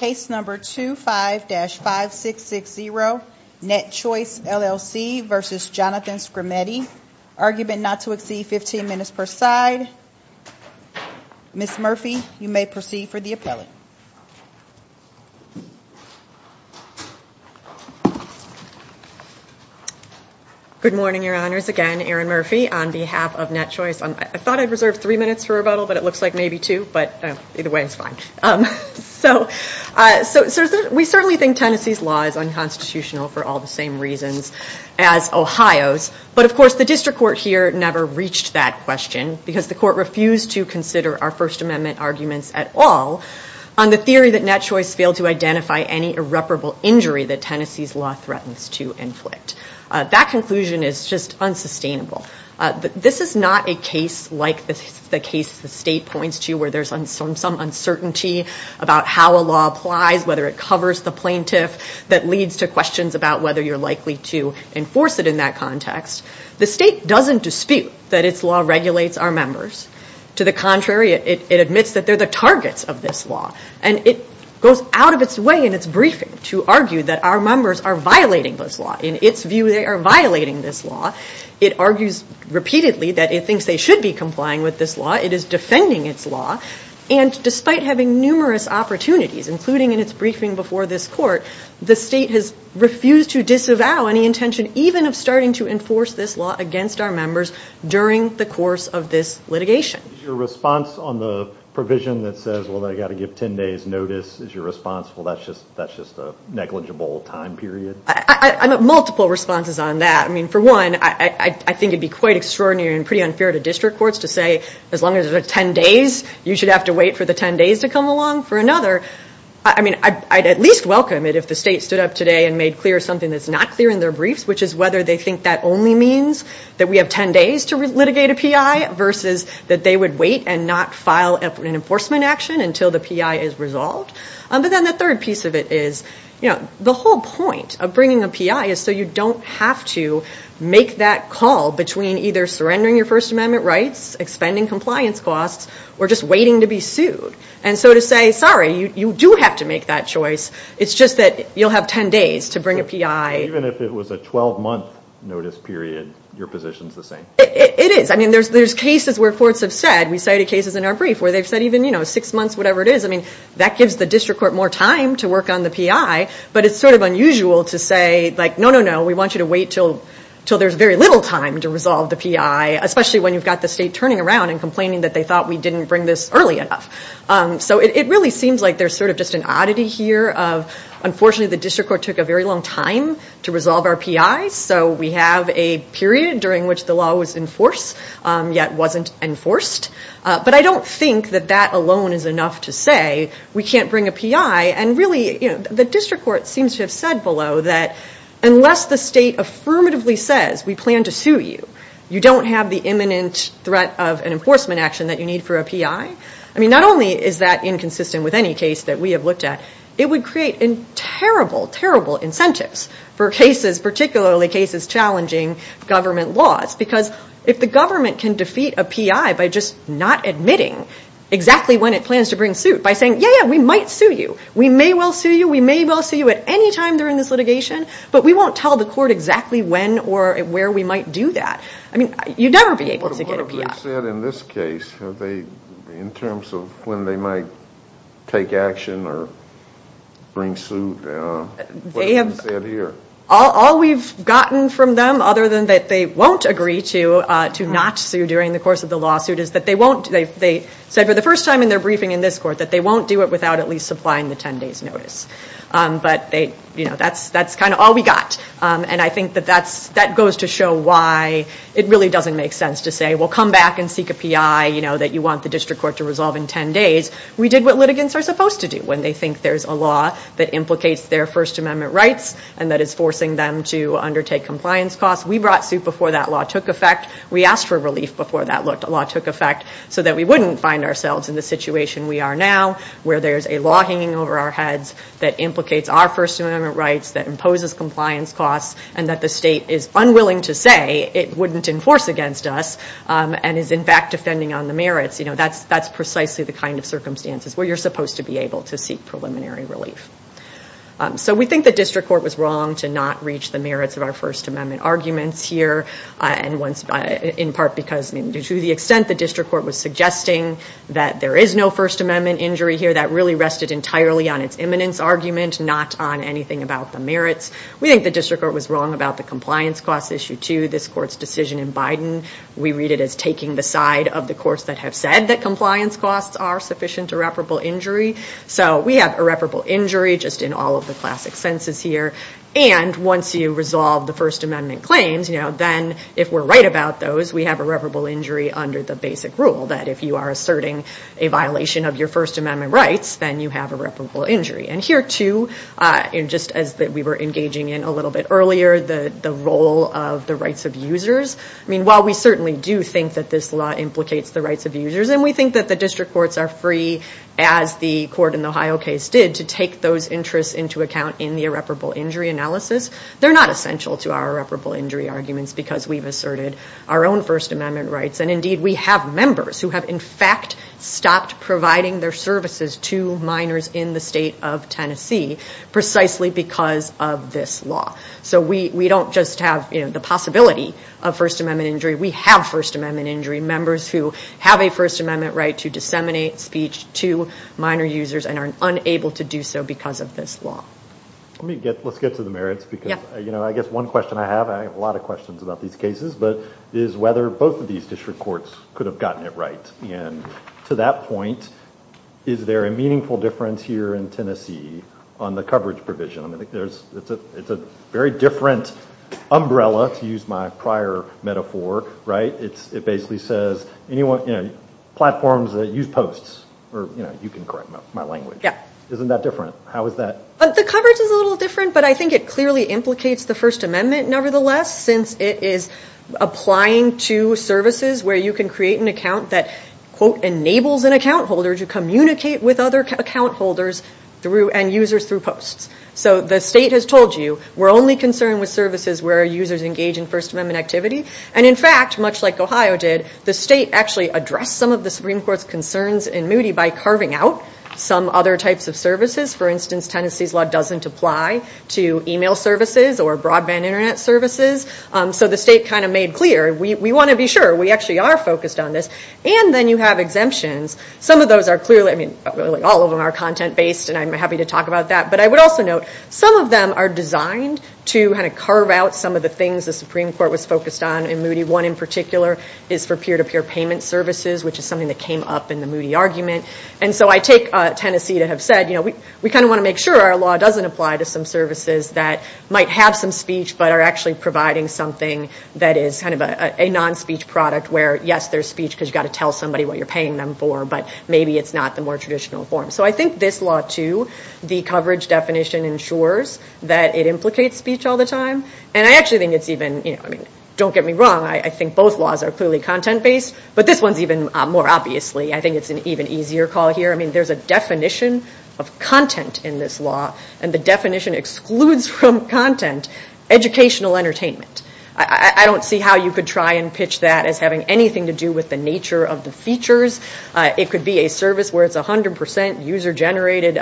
Case number 25-5660, NetChoice LLC v. Jonathan Skrmetti. Argument not to exceed 15 minutes per side. Ms. Murphy, you may proceed for the appellate. Good morning, Your Honors. Again, Erin Murphy on behalf of NetChoice. I thought I'd reserve three minutes for rebuttal, but it looks like maybe two, but either way is fine. So, we certainly think Tennessee's law is unconstitutional for all the same reasons as Ohio's. But, of course, the district court here never reached that question, because the court refused to consider our First Amendment arguments at all on the theory that NetChoice failed to identify any irreparable injury that Tennessee's law threatens to inflict. That conclusion is just unsustainable. This is not a case like the case the state points to where there's some uncertainty about how a law applies, whether it covers the plaintiff, that leads to questions about whether you're likely to enforce it in that context. The state doesn't dispute that its law regulates our members. To the contrary, it admits that they're the targets of this law. And it goes out of its way in its briefing to argue that our members are violating this law. In its view, they are violating this law. It argues repeatedly that it thinks they should be complying with this law. It is defending its law. And despite having numerous opportunities, including in its briefing before this court, the state has refused to disavow any intention even of starting to enforce this law against our members during the course of this litigation. Is your response on the provision that says, well, they've got to give 10 days notice, is your response, well, that's just a negligible time period? I've got multiple responses on that. I mean, for one, I think it would be quite extraordinary and pretty unfair to district courts to say, as long as there's 10 days, you should have to wait for the 10 days to come along. For another, I mean, I'd at least welcome it if the state stood up today and made clear something that's not clear in their briefs, which is whether they think that only means that we have 10 days to litigate a PI versus that they would wait and not file an enforcement action until the PI is resolved. But then the third piece of it is the whole point of bringing a PI is so you don't have to make that call between either surrendering your First Amendment rights, expending compliance costs, or just waiting to be sued. And so to say, sorry, you do have to make that choice. It's just that you'll have 10 days to bring a PI. Even if it was a 12-month notice period, your position's the same? It is. I mean, there's cases where courts have said, we cited cases in our brief where they've said, even six months, whatever it is, I mean, that gives the district court more time to work on the PI. But it's sort of unusual to say, no, no, no, we want you to wait until there's very little time to resolve the PI, especially when you've got the state turning around and complaining that they thought we didn't bring this early enough. So it really seems like there's sort of just an oddity here of, unfortunately, the district court took a very long time to resolve our PIs, so we have a period during which the law was in force yet wasn't enforced. But I don't think that that alone is enough to say we can't bring a PI. And really, the district court seems to have said below that unless the state affirmatively says we plan to sue you, you don't have the imminent threat of an enforcement action that you need for a PI. I mean, not only is that inconsistent with any case that we have looked at, it would create terrible, terrible incentives for cases, particularly cases challenging government laws. Because if the government can defeat a PI by just not admitting exactly when it plans to bring suit, by saying, yeah, yeah, we might sue you, we may well sue you, we may well sue you at any time during this litigation, but we won't tell the court exactly when or where we might do that. I mean, you'd never be able to get a PI. What have they said in this case in terms of when they might take action or bring suit? What have they said here? All we've gotten from them, other than that they won't agree to not sue during the course of the lawsuit, is that they said for the first time in their briefing in this court that they won't do it without at least supplying the 10 days notice. But that's kind of all we got. And I think that that goes to show why it really doesn't make sense to say, well, come back and seek a PI that you want the district court to resolve in 10 days. We did what litigants are supposed to do when they think there's a law that implicates their First Amendment rights and that is forcing them to undertake compliance costs. We brought suit before that law took effect. We asked for relief before that law took effect so that we wouldn't find ourselves in the situation we are now, where there's a law hanging over our heads that implicates our First Amendment rights, that imposes compliance costs, and that the state is unwilling to say it wouldn't enforce against us and is, in fact, defending on the merits. You know, that's precisely the kind of circumstances where you're supposed to be able to seek preliminary relief. So we think the district court was wrong to not reach the merits of our First Amendment arguments here, in part because to the extent the district court was suggesting that there is no First Amendment injury here, that really rested entirely on its imminence argument, not on anything about the merits. We think the district court was wrong about the compliance costs issue, too. We read it as taking the side of the courts that have said that compliance costs are sufficient irreparable injury. So we have irreparable injury just in all of the classic senses here. And once you resolve the First Amendment claims, you know, then if we're right about those, we have irreparable injury under the basic rule that if you are asserting a violation of your First Amendment rights, then you have irreparable injury. And here, too, just as we were engaging in a little bit earlier, the role of the rights of users, I mean, while we certainly do think that this law implicates the rights of users and we think that the district courts are free, as the court in the Ohio case did, to take those interests into account in the irreparable injury analysis, they're not essential to our irreparable injury arguments because we've asserted our own First Amendment rights. And, indeed, we have members who have, in fact, stopped providing their services to minors in the state of Tennessee precisely because of this law. So we don't just have, you know, the possibility of First Amendment injury. We have First Amendment injury members who have a First Amendment right to disseminate speech to minor users and are unable to do so because of this law. Let's get to the merits because, you know, I guess one question I have, I have a lot of questions about these cases, but is whether both of these district courts could have gotten it right. And to that point, is there a meaningful difference here in Tennessee on the coverage provision? I mean, it's a very different umbrella, to use my prior metaphor, right? It basically says, you know, platforms that use posts, or, you know, you can correct my language. Isn't that different? How is that? The coverage is a little different, but I think it clearly implicates the First Amendment, nevertheless, since it is applying to services where you can create an account that, quote, enables an account holder to communicate with other account holders and users through posts. So the state has told you we're only concerned with services where users engage in First Amendment activity. And, in fact, much like Ohio did, the state actually addressed some of the Supreme Court's concerns in Moody by carving out some other types of services. For instance, Tennessee's law doesn't apply to e-mail services or broadband Internet services. So the state kind of made clear, we want to be sure. We actually are focused on this. And then you have exemptions. Some of those are clearly, I mean, all of them are content-based, and I'm happy to talk about that. But I would also note some of them are designed to kind of carve out some of the things the Supreme Court was focused on in Moody. One in particular is for peer-to-peer payment services, which is something that came up in the Moody argument. And so I take Tennessee to have said, you know, we kind of want to make sure our law doesn't apply to some services that might have some speech but are actually providing something that is kind of a non-speech product, where, yes, there's speech because you've got to tell somebody what you're paying them for, but maybe it's not the more traditional form. So I think this law, too, the coverage definition ensures that it implicates speech all the time. And I actually think it's even, you know, I mean, don't get me wrong. I think both laws are clearly content-based. But this one's even more obviously. I think it's an even easier call here. I mean, there's a definition of content in this law, and the definition excludes from content educational entertainment. I don't see how you could try and pitch that as having anything to do with the nature of the features. It could be a service where it's 100% user-generated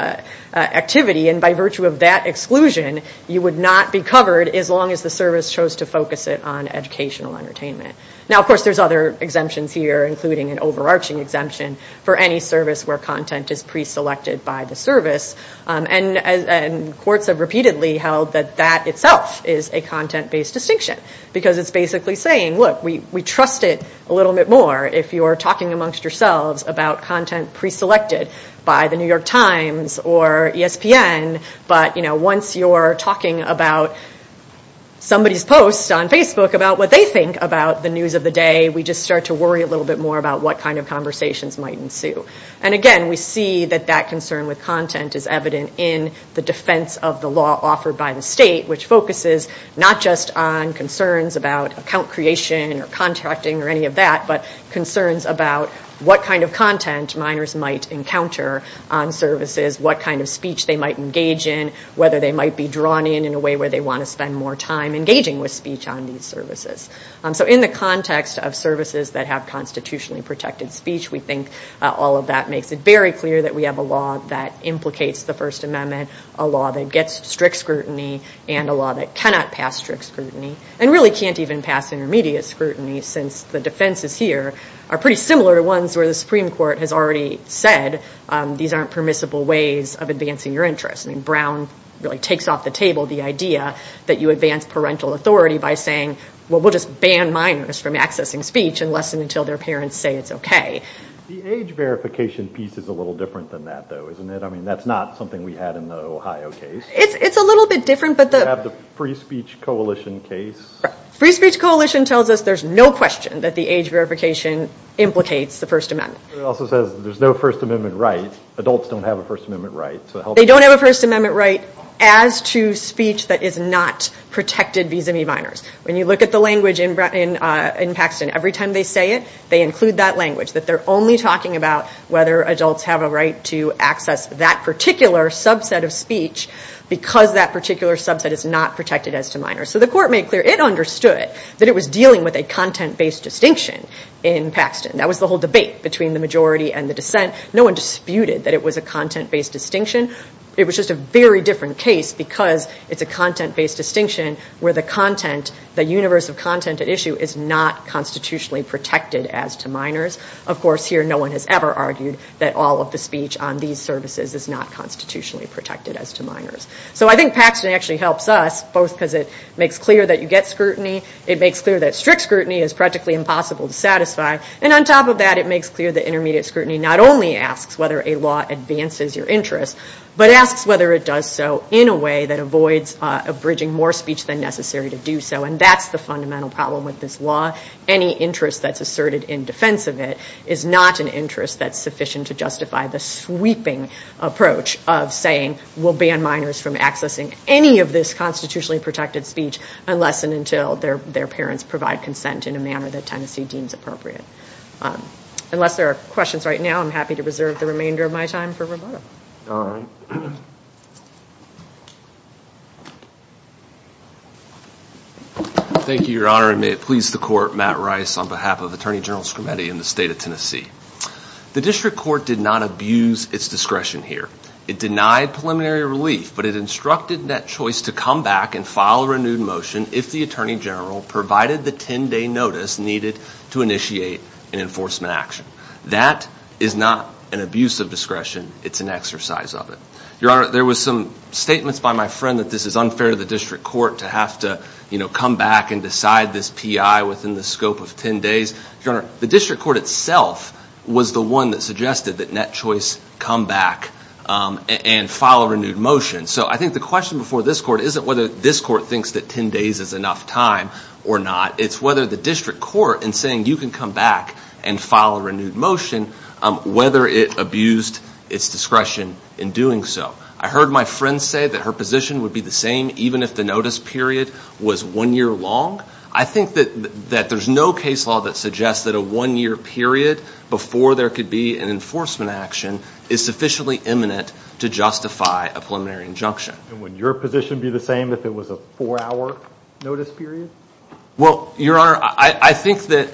activity, and by virtue of that exclusion, you would not be covered as long as the service chose to focus it on educational entertainment. Now, of course, there's other exemptions here, including an overarching exemption for any service where content is preselected by the service. And courts have repeatedly held that that itself is a content-based distinction because it's basically saying, look, we trust it a little bit more. If you're talking amongst yourselves about content preselected by the New York Times or ESPN, but, you know, once you're talking about somebody's post on Facebook about what they think about the news of the day, we just start to worry a little bit more about what kind of conversations might ensue. And again, we see that that concern with content is evident in the defense of the law offered by the state, which focuses not just on concerns about account creation or contracting or any of that, but concerns about what kind of content minors might encounter on services, what kind of speech they might engage in, whether they might be drawn in in a way where they want to spend more time engaging with speech on these services. So in the context of services that have constitutionally protected speech, we think all of that makes it very clear that we have a law that implicates the First Amendment, a law that gets strict scrutiny, and a law that cannot pass strict scrutiny, and really can't even pass intermediate scrutiny, since the defenses here are pretty similar to ones where the Supreme Court has already said, these aren't permissible ways of advancing your interests. I mean, Brown really takes off the table the idea that you advance parental authority by saying, well, we'll just ban minors from accessing speech unless and until their parents say it's okay. The age verification piece is a little different than that, though, isn't it? I mean, that's not something we had in the Ohio case. It's a little bit different. You have the Free Speech Coalition case. Free Speech Coalition tells us there's no question that the age verification implicates the First Amendment. It also says there's no First Amendment right. Adults don't have a First Amendment right. They don't have a First Amendment right as to speech that is not protected vis-a-vis minors. When you look at the language in Paxton, every time they say it, they include that language, that they're only talking about whether adults have a right to access that particular subset of speech because that particular subset is not protected as to minors. So the court made clear it understood that it was dealing with a content-based distinction in Paxton. That was the whole debate between the majority and the dissent. No one disputed that it was a content-based distinction. It was just a very different case because it's a content-based distinction where the content, the universe of content at issue is not constitutionally protected as to minors. Of course, here no one has ever argued that all of the speech on these services is not constitutionally protected as to minors. So I think Paxton actually helps us both because it makes clear that you get scrutiny. It makes clear that strict scrutiny is practically impossible to satisfy. And on top of that, it makes clear that intermediate scrutiny not only asks whether a law advances your interest but asks whether it does so in a way that avoids abridging more speech than necessary to do so. And that's the fundamental problem with this law. Any interest that's asserted in defense of it is not an interest that's sufficient to justify the sweeping approach of saying, we'll ban minors from accessing any of this constitutionally protected speech unless and until their parents provide consent in a manner that Tennessee deems appropriate. Unless there are questions right now, I'm happy to reserve the remainder of my time for Roberto. All right. Thank you, Your Honor. And may it please the Court, Matt Rice on behalf of Attorney General Scarametti in the state of Tennessee. The district court did not abuse its discretion here. It denied preliminary relief, but it instructed that choice to come back and file a renewed motion if the Attorney General provided the 10-day notice needed to initiate an enforcement action. That is not an abuse of discretion. It's an exercise of it. Your Honor, there was some statements by my friend that this is unfair to the district court to have to come back and decide this P.I. within the scope of 10 days. Your Honor, the district court itself was the one that suggested that net choice come back and file a renewed motion. So I think the question before this court isn't whether this court thinks that 10 days is enough time or not. It's whether the district court in saying you can come back and file a renewed motion, whether it abused its discretion in doing so. I heard my friend say that her position would be the same even if the notice period was one year long. I think that there's no case law that suggests that a one-year period before there could be an enforcement action is sufficiently imminent to justify a preliminary injunction. And would your position be the same if it was a four-hour notice period? Well, Your Honor, I think that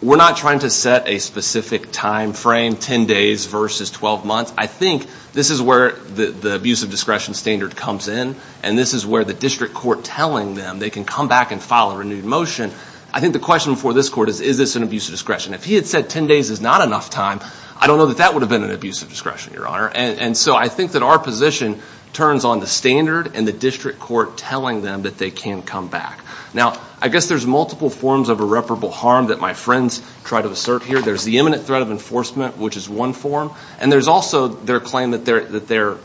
we're not trying to set a specific time frame, 10 days versus 12 months. I think this is where the abuse of discretion standard comes in, and this is where the district court telling them they can come back and file a renewed motion. I think the question before this court is, is this an abuse of discretion? If he had said 10 days is not enough time, I don't know that that would have been an abuse of discretion, Your Honor. And so I think that our position turns on the standard and the district court telling them that they can come back. Now, I guess there's multiple forms of irreparable harm that my friends try to assert here. There's the imminent threat of enforcement, which is one form, and there's also their claim that their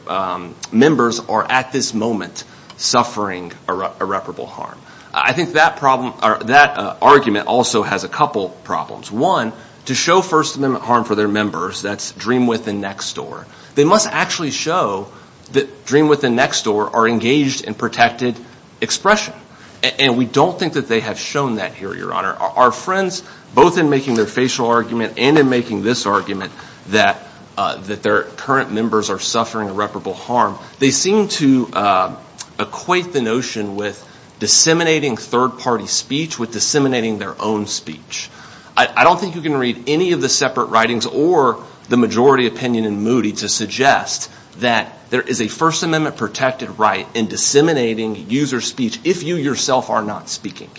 members are at this moment suffering irreparable harm. I think that argument also has a couple problems. One, to show First Amendment harm for their members, that's dream with and next door. They must actually show that dream with and next door are engaged in protected expression, and we don't think that they have shown that here, Your Honor. Our friends, both in making their facial argument and in making this argument, that their current members are suffering irreparable harm, they seem to equate the notion with disseminating third-party speech with disseminating their own speech. I don't think you can read any of the separate writings or the majority opinion in Moody to suggest that there is a First Amendment-protected right in disseminating user speech if you yourself are not speaking.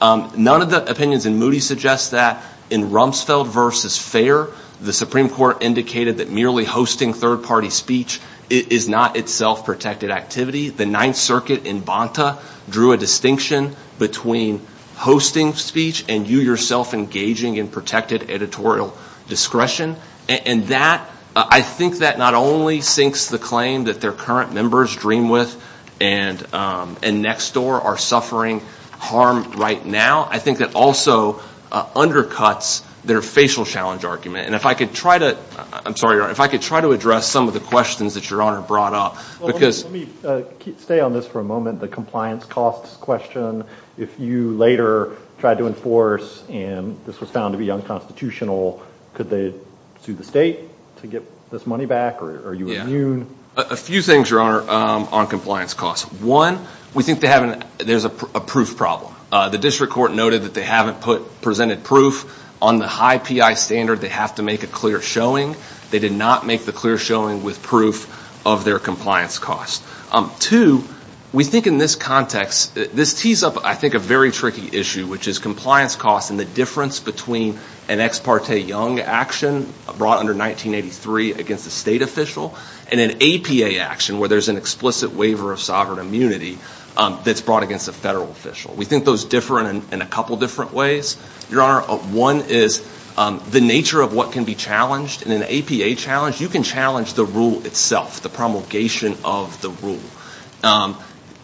None of the opinions in Moody suggest that in Rumsfeld v. Fair, the Supreme Court indicated that merely hosting third-party speech is not itself protected activity. The Ninth Circuit in Bonta drew a distinction between hosting speech and you yourself engaging in protected editorial discretion. And that, I think that not only sinks the claim that their current members, dream with and next door, are suffering harm right now. I think that also undercuts their facial challenge argument. And if I could try to address some of the questions that Your Honor brought up. Let me stay on this for a moment, the compliance costs question. If you later tried to enforce and this was found to be unconstitutional, could they sue the state to get this money back or are you immune? A few things, Your Honor, on compliance costs. One, we think there's a proof problem. The district court noted that they haven't presented proof. On the high PI standard, they have to make a clear showing. They did not make the clear showing with proof of their compliance costs. Two, we think in this context, this tees up, I think, a very tricky issue, which is compliance costs and the difference between an Ex Parte Young action brought under 1983 against a state official and an APA action where there's an explicit waiver of sovereign immunity that's brought against a federal official. We think those differ in a couple different ways, Your Honor. One is the nature of what can be challenged. In an APA challenge, you can challenge the rule itself, the promulgation of the rule.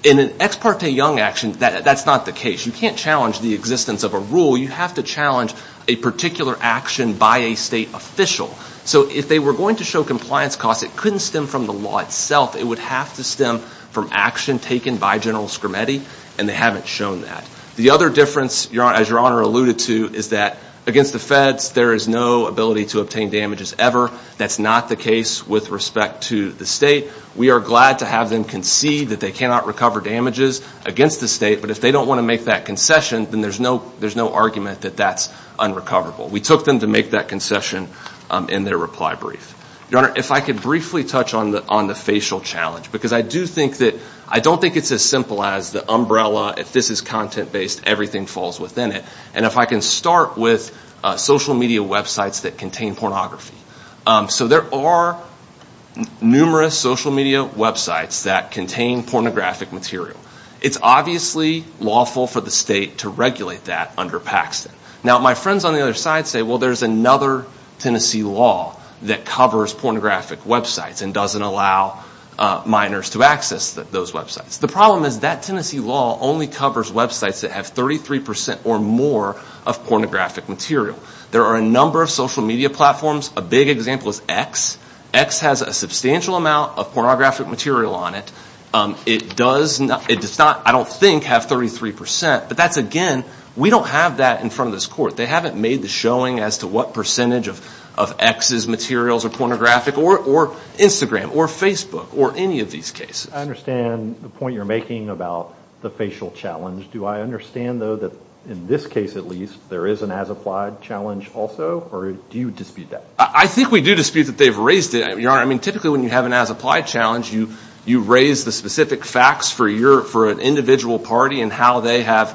In an Ex Parte Young action, that's not the case. You can't challenge the existence of a rule. You have to challenge a particular action by a state official. So if they were going to show compliance costs, it couldn't stem from the law itself. It would have to stem from action taken by General Scrimeti, and they haven't shown that. The other difference, as Your Honor alluded to, is that against the feds, there is no ability to obtain damages ever. That's not the case with respect to the state. We are glad to have them concede that they cannot recover damages against the state, but if they don't want to make that concession, then there's no argument that that's unrecoverable. We took them to make that concession in their reply brief. Your Honor, if I could briefly touch on the facial challenge, because I don't think it's as simple as the umbrella. If this is content-based, everything falls within it. And if I can start with social media websites that contain pornography. So there are numerous social media websites that contain pornographic material. It's obviously lawful for the state to regulate that under Paxton. Now, my friends on the other side say, well, there's another Tennessee law that covers pornographic websites and doesn't allow minors to access those websites. The problem is that Tennessee law only covers websites that have 33% or more of pornographic material. There are a number of social media platforms. A big example is X. X has a substantial amount of pornographic material on it. It does not, I don't think, have 33%, but that's again, we don't have that in front of this court. They haven't made the showing as to what percentage of X's materials are pornographic, or Instagram, or Facebook, or any of these cases. I understand the point you're making about the facial challenge. Do I understand, though, that in this case at least, there is an as-applied challenge also, or do you dispute that? I think we do dispute that they've raised it, Your Honor. I mean, typically when you have an as-applied challenge, you raise the specific facts for an individual party and how they have,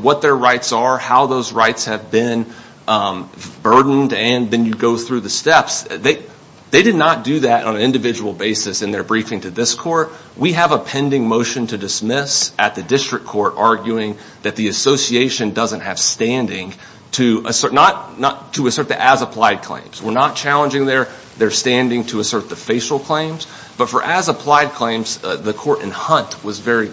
what their rights are, how those rights have been burdened, and then you go through the steps. They did not do that on an individual basis in their briefing to this court. We have a pending motion to dismiss at the district court arguing that the association doesn't have standing to assert the as-applied claims. We're not challenging their standing to assert the facial claims. But for as-applied claims, the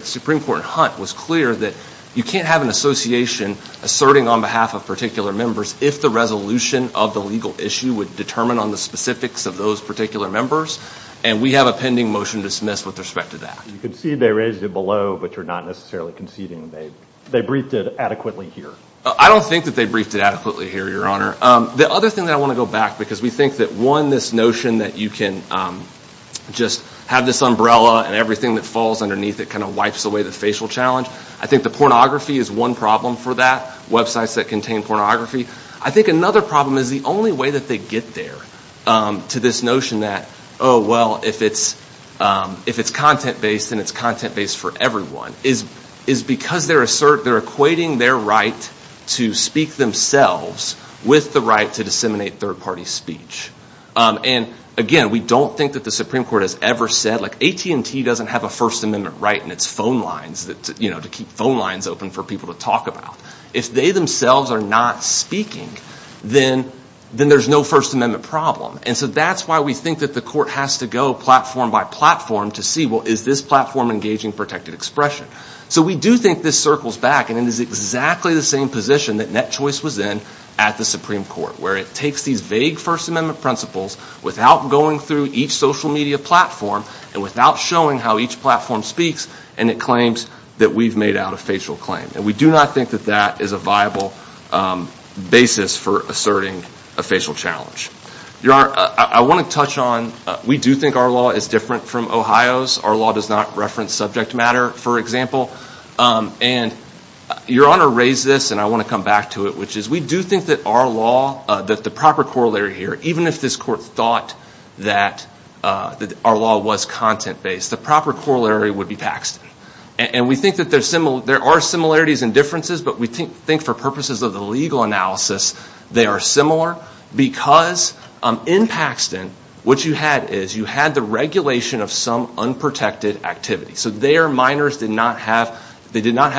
Supreme Court in Hunt was clear that you can't have an association asserting on behalf of particular members if the resolution of the legal issue would determine on the specifics of those particular members, and we have a pending motion to dismiss with respect to that. You concede they raised it below, but you're not necessarily conceding they briefed it adequately here. I don't think that they briefed it adequately here, Your Honor. The other thing that I want to go back, because we think that, one, this notion that you can just have this umbrella and everything that falls underneath it kind of wipes away the facial challenge. I think the pornography is one problem for that, websites that contain pornography. I think another problem is the only way that they get there to this notion that, oh, well, if it's content-based and it's content-based for everyone, is because they're equating their right to speak themselves with the right to disseminate third-party speech. And, again, we don't think that the Supreme Court has ever said, like, AT&T doesn't have a First Amendment right in its phone lines to keep phone lines open for people to talk about. If they themselves are not speaking, then there's no First Amendment problem. And so that's why we think that the court has to go platform by platform to see, well, is this platform engaging protected expression? So we do think this circles back, and it is exactly the same position that Net Choice was in at the Supreme Court, where it takes these vague First Amendment principles without going through each social media platform and without showing how each platform speaks, and it claims that we've made out a facial claim. And we do not think that that is a viable basis for asserting a facial challenge. Your Honor, I want to touch on, we do think our law is different from Ohio's. Our law does not reference subject matter, for example. And Your Honor raised this, and I want to come back to it, which is we do think that our law, that the proper corollary here, even if this court thought that our law was content-based, the proper corollary would be Paxton. And we think that there are similarities and differences, but we think for purposes of the legal analysis they are similar because in Paxton what you had is you had the regulation of some unprotected activity. So their minors did not have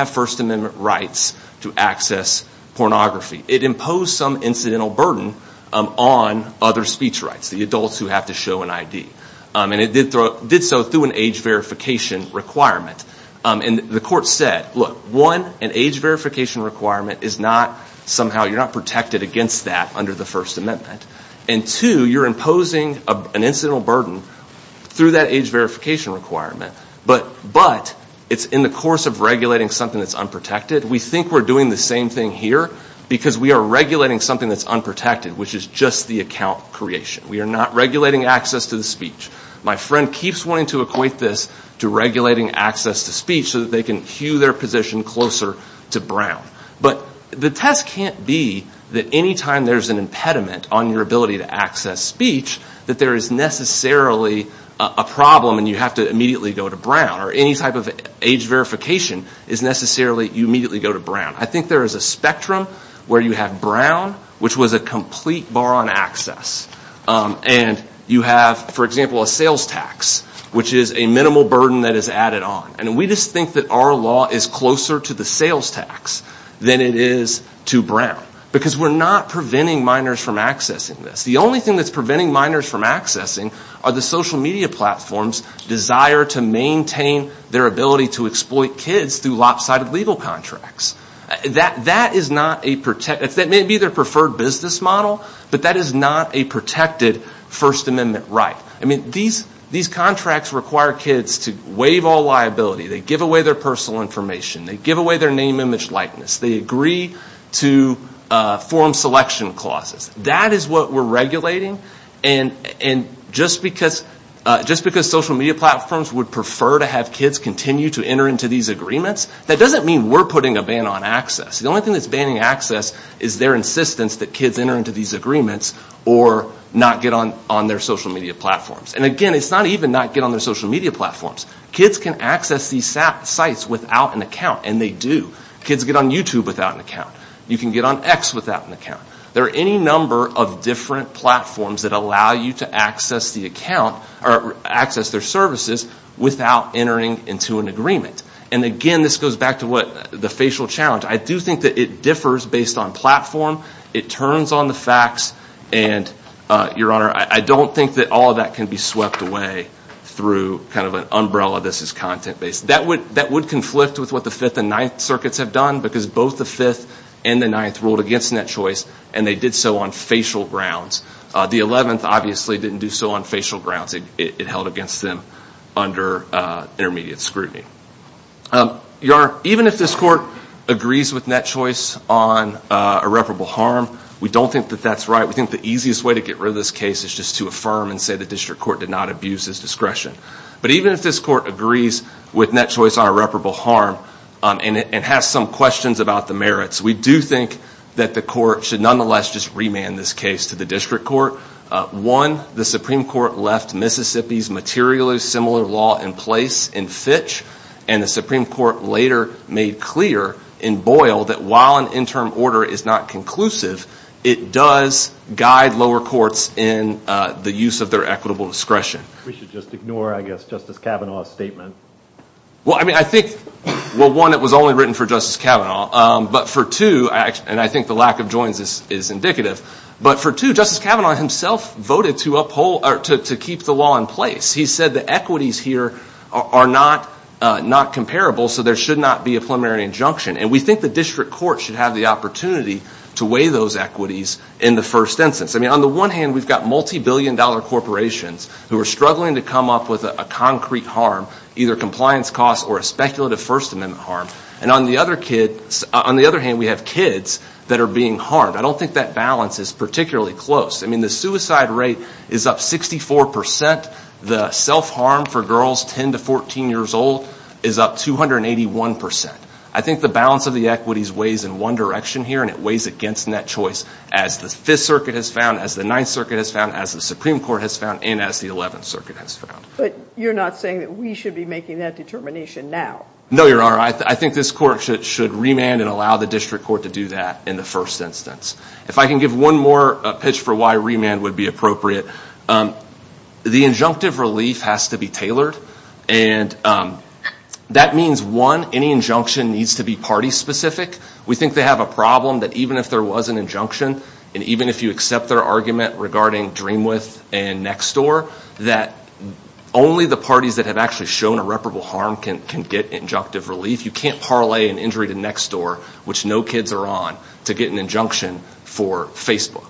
First Amendment rights to access pornography. It imposed some incidental burden on other speech rights, the adults who have to show an ID. And it did so through an age verification requirement. And the court said, look, one, an age verification requirement is not somehow, you're not protected against that under the First Amendment. And two, you're imposing an incidental burden through that age verification requirement, but it's in the course of regulating something that's unprotected. We think we're doing the same thing here because we are regulating something that's unprotected, which is just the account creation. We are not regulating access to the speech. My friend keeps wanting to equate this to regulating access to speech so that they can cue their position closer to Brown. But the test can't be that any time there's an impediment on your ability to access speech that there is necessarily a problem and you have to immediately go to Brown, or any type of age verification is necessarily you immediately go to Brown. I think there is a spectrum where you have Brown, which was a complete bar on access, and you have, for example, a sales tax, which is a minimal burden that is added on. And we just think that our law is closer to the sales tax than it is to Brown because we're not preventing minors from accessing this. The only thing that's preventing minors from accessing are the social media platforms' desire to maintain their ability to exploit kids through lopsided legal contracts. That may be their preferred business model, but that is not a protected First Amendment right. I mean, these contracts require kids to waive all liability. They give away their personal information. They give away their name, image, likeness. They agree to form selection clauses. That is what we're regulating. And just because social media platforms would prefer to have kids continue to enter into these agreements, that doesn't mean we're putting a ban on access. The only thing that's banning access is their insistence that kids enter into these agreements or not get on their social media platforms. And again, it's not even not get on their social media platforms. Kids can access these sites without an account, and they do. Kids get on YouTube without an account. You can get on X without an account. There are any number of different platforms that allow you to access their services without entering into an agreement. And again, this goes back to the facial challenge. I do think that it differs based on platform. It turns on the facts. And, Your Honor, I don't think that all of that can be swept away through kind of an umbrella, this is content-based. That would conflict with what the Fifth and Ninth Circuits have done because both the Fifth and the Ninth ruled against net choice, and they did so on facial grounds. The Eleventh obviously didn't do so on facial grounds. It held against them under intermediate scrutiny. Your Honor, even if this court agrees with net choice on irreparable harm, we don't think that that's right. We think the easiest way to get rid of this case is just to affirm and say the district court did not abuse its discretion. But even if this court agrees with net choice on irreparable harm and has some questions about the merits, we do think that the court should nonetheless just remand this case to the district court. One, the Supreme Court left Mississippi's materially similar law in place in Fitch, and the Supreme Court later made clear in Boyle that while an interim order is not conclusive, it does guide lower courts in the use of their equitable discretion. We should just ignore, I guess, Justice Kavanaugh's statement. Well, I mean, I think, well, one, it was only written for Justice Kavanaugh, but for two, and I think the lack of joins is indicative, but for two, Justice Kavanaugh himself voted to keep the law in place. He said the equities here are not comparable, so there should not be a preliminary injunction. And we think the district court should have the opportunity to weigh those equities in the first instance. I mean, on the one hand, we've got multibillion-dollar corporations who are struggling to come up with a concrete harm, either compliance costs or a speculative First Amendment harm. And on the other hand, we have kids that are being harmed. I don't think that balance is particularly close. I mean, the suicide rate is up 64 percent. The self-harm for girls 10 to 14 years old is up 281 percent. I think the balance of the equities weighs in one direction here, and it weighs against net choice as the Fifth Circuit has found, as the Ninth Circuit has found, as the Supreme Court has found, and as the Eleventh Circuit has found. But you're not saying that we should be making that determination now. No, Your Honor. I think this court should remand and allow the district court to do that in the first instance. If I can give one more pitch for why remand would be appropriate, the injunctive relief has to be tailored. And that means, one, any injunction needs to be party-specific. We think they have a problem that even if there was an injunction, and even if you accept their argument regarding Dream With and Next Door, that only the parties that have actually shown irreparable harm can get injunctive relief. You can't parlay an injury to Next Door, which no kids are on, to get an injunction for Facebook.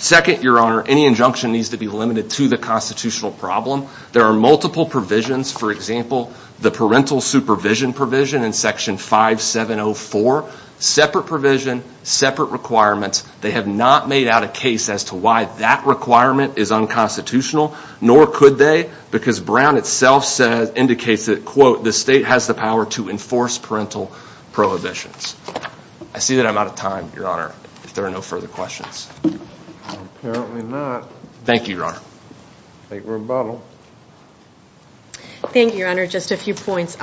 Second, Your Honor, any injunction needs to be limited to the constitutional problem. There are multiple provisions. For example, the parental supervision provision in Section 5704, separate provision, separate requirements. They have not made out a case as to why that requirement is unconstitutional, nor could they, because Brown itself indicates that, quote, the state has the power to enforce parental prohibitions. I see that I'm out of time, Your Honor, if there are no further questions. Apparently not. Thank you, Your Honor. Great rebuttal. Thank you, Your Honor. Just a few points.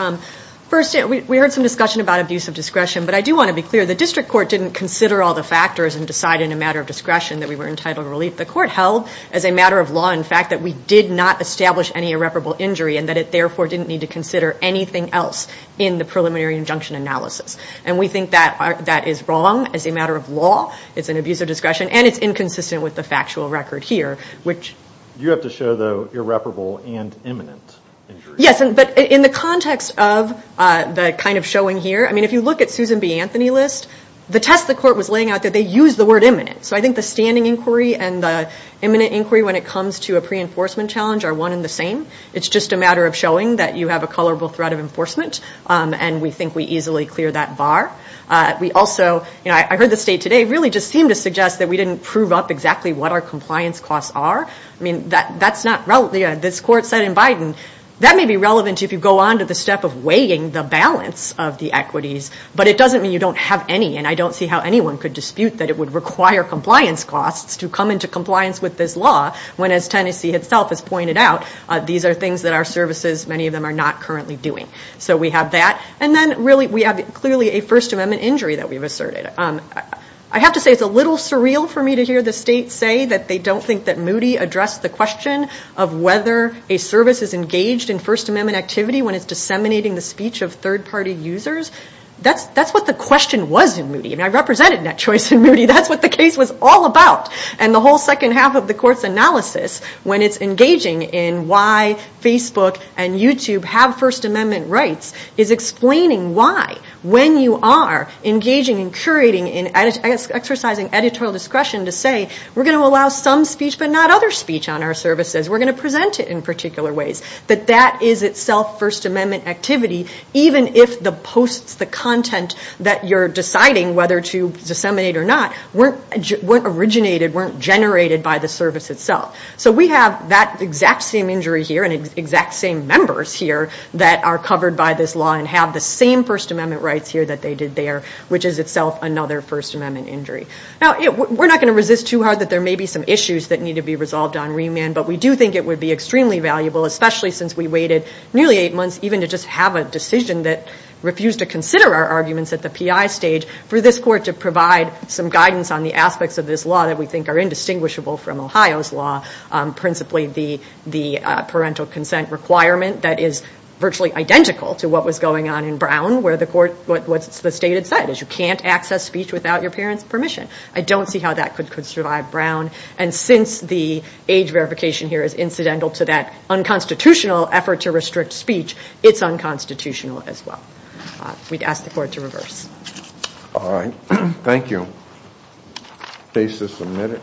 First, we heard some discussion about abuse of discretion, but I do want to be clear. The district court didn't consider all the factors and decide in a matter of discretion that we were entitled to relief. The court held as a matter of law, in fact, that we did not establish any irreparable injury and that it therefore didn't need to consider anything else in the preliminary injunction analysis. And we think that that is wrong as a matter of law. It's an abuse of discretion, and it's inconsistent with the factual record here. You have to show the irreparable and imminent injury. Yes, but in the context of the kind of showing here, I mean, if you look at Susan B. Anthony's list, the test the court was laying out there, they used the word imminent. So I think the standing inquiry and the imminent inquiry when it comes to a pre-enforcement challenge are one and the same. It's just a matter of showing that you have a colorable threat of enforcement, and we think we easily clear that bar. We also, you know, I heard the state today really just seem to suggest that we didn't prove up exactly what our compliance costs are. I mean, that's not relevant. Well, yeah, this court said in Biden, that may be relevant if you go on to the step of weighing the balance of the equities, but it doesn't mean you don't have any, and I don't see how anyone could dispute that it would require compliance costs to come into compliance with this law, when, as Tennessee itself has pointed out, these are things that our services, many of them, are not currently doing. So we have that. And then, really, we have clearly a First Amendment injury that we've asserted. I have to say it's a little surreal for me to hear the state say that they don't think that Moody addressed the question of whether a service is engaged in First Amendment activity when it's disseminating the speech of third-party users. That's what the question was in Moody, and I represented Net Choice in Moody. That's what the case was all about. And the whole second half of the court's analysis, when it's engaging in why Facebook and YouTube have First Amendment rights, is explaining why, when you are engaging and curating and exercising editorial discretion to say, we're going to allow some speech but not other speech on our services, we're going to present it in particular ways, that that is itself First Amendment activity, even if the posts, the content that you're deciding whether to disseminate or not, weren't originated, weren't generated by the service itself. So we have that exact same injury here and exact same members here that are covered by this law and have the same First Amendment rights here that they did there, which is itself another First Amendment injury. Now, we're not going to resist too hard that there may be some issues that need to be resolved on remand, but we do think it would be extremely valuable, especially since we waited nearly eight months, even to just have a decision that refused to consider our arguments at the PI stage, for this court to provide some guidance on the aspects of this law that we think are indistinguishable from Ohio's law, principally the parental consent requirement that is virtually identical to what was going on in Brown, where the court, what the state had said, is you can't access speech without your parents' permission. I don't see how that could survive Brown. And since the age verification here is incidental to that unconstitutional effort to restrict speech, it's unconstitutional as well. We'd ask the court to reverse. All right. Thank you. Case is submitted.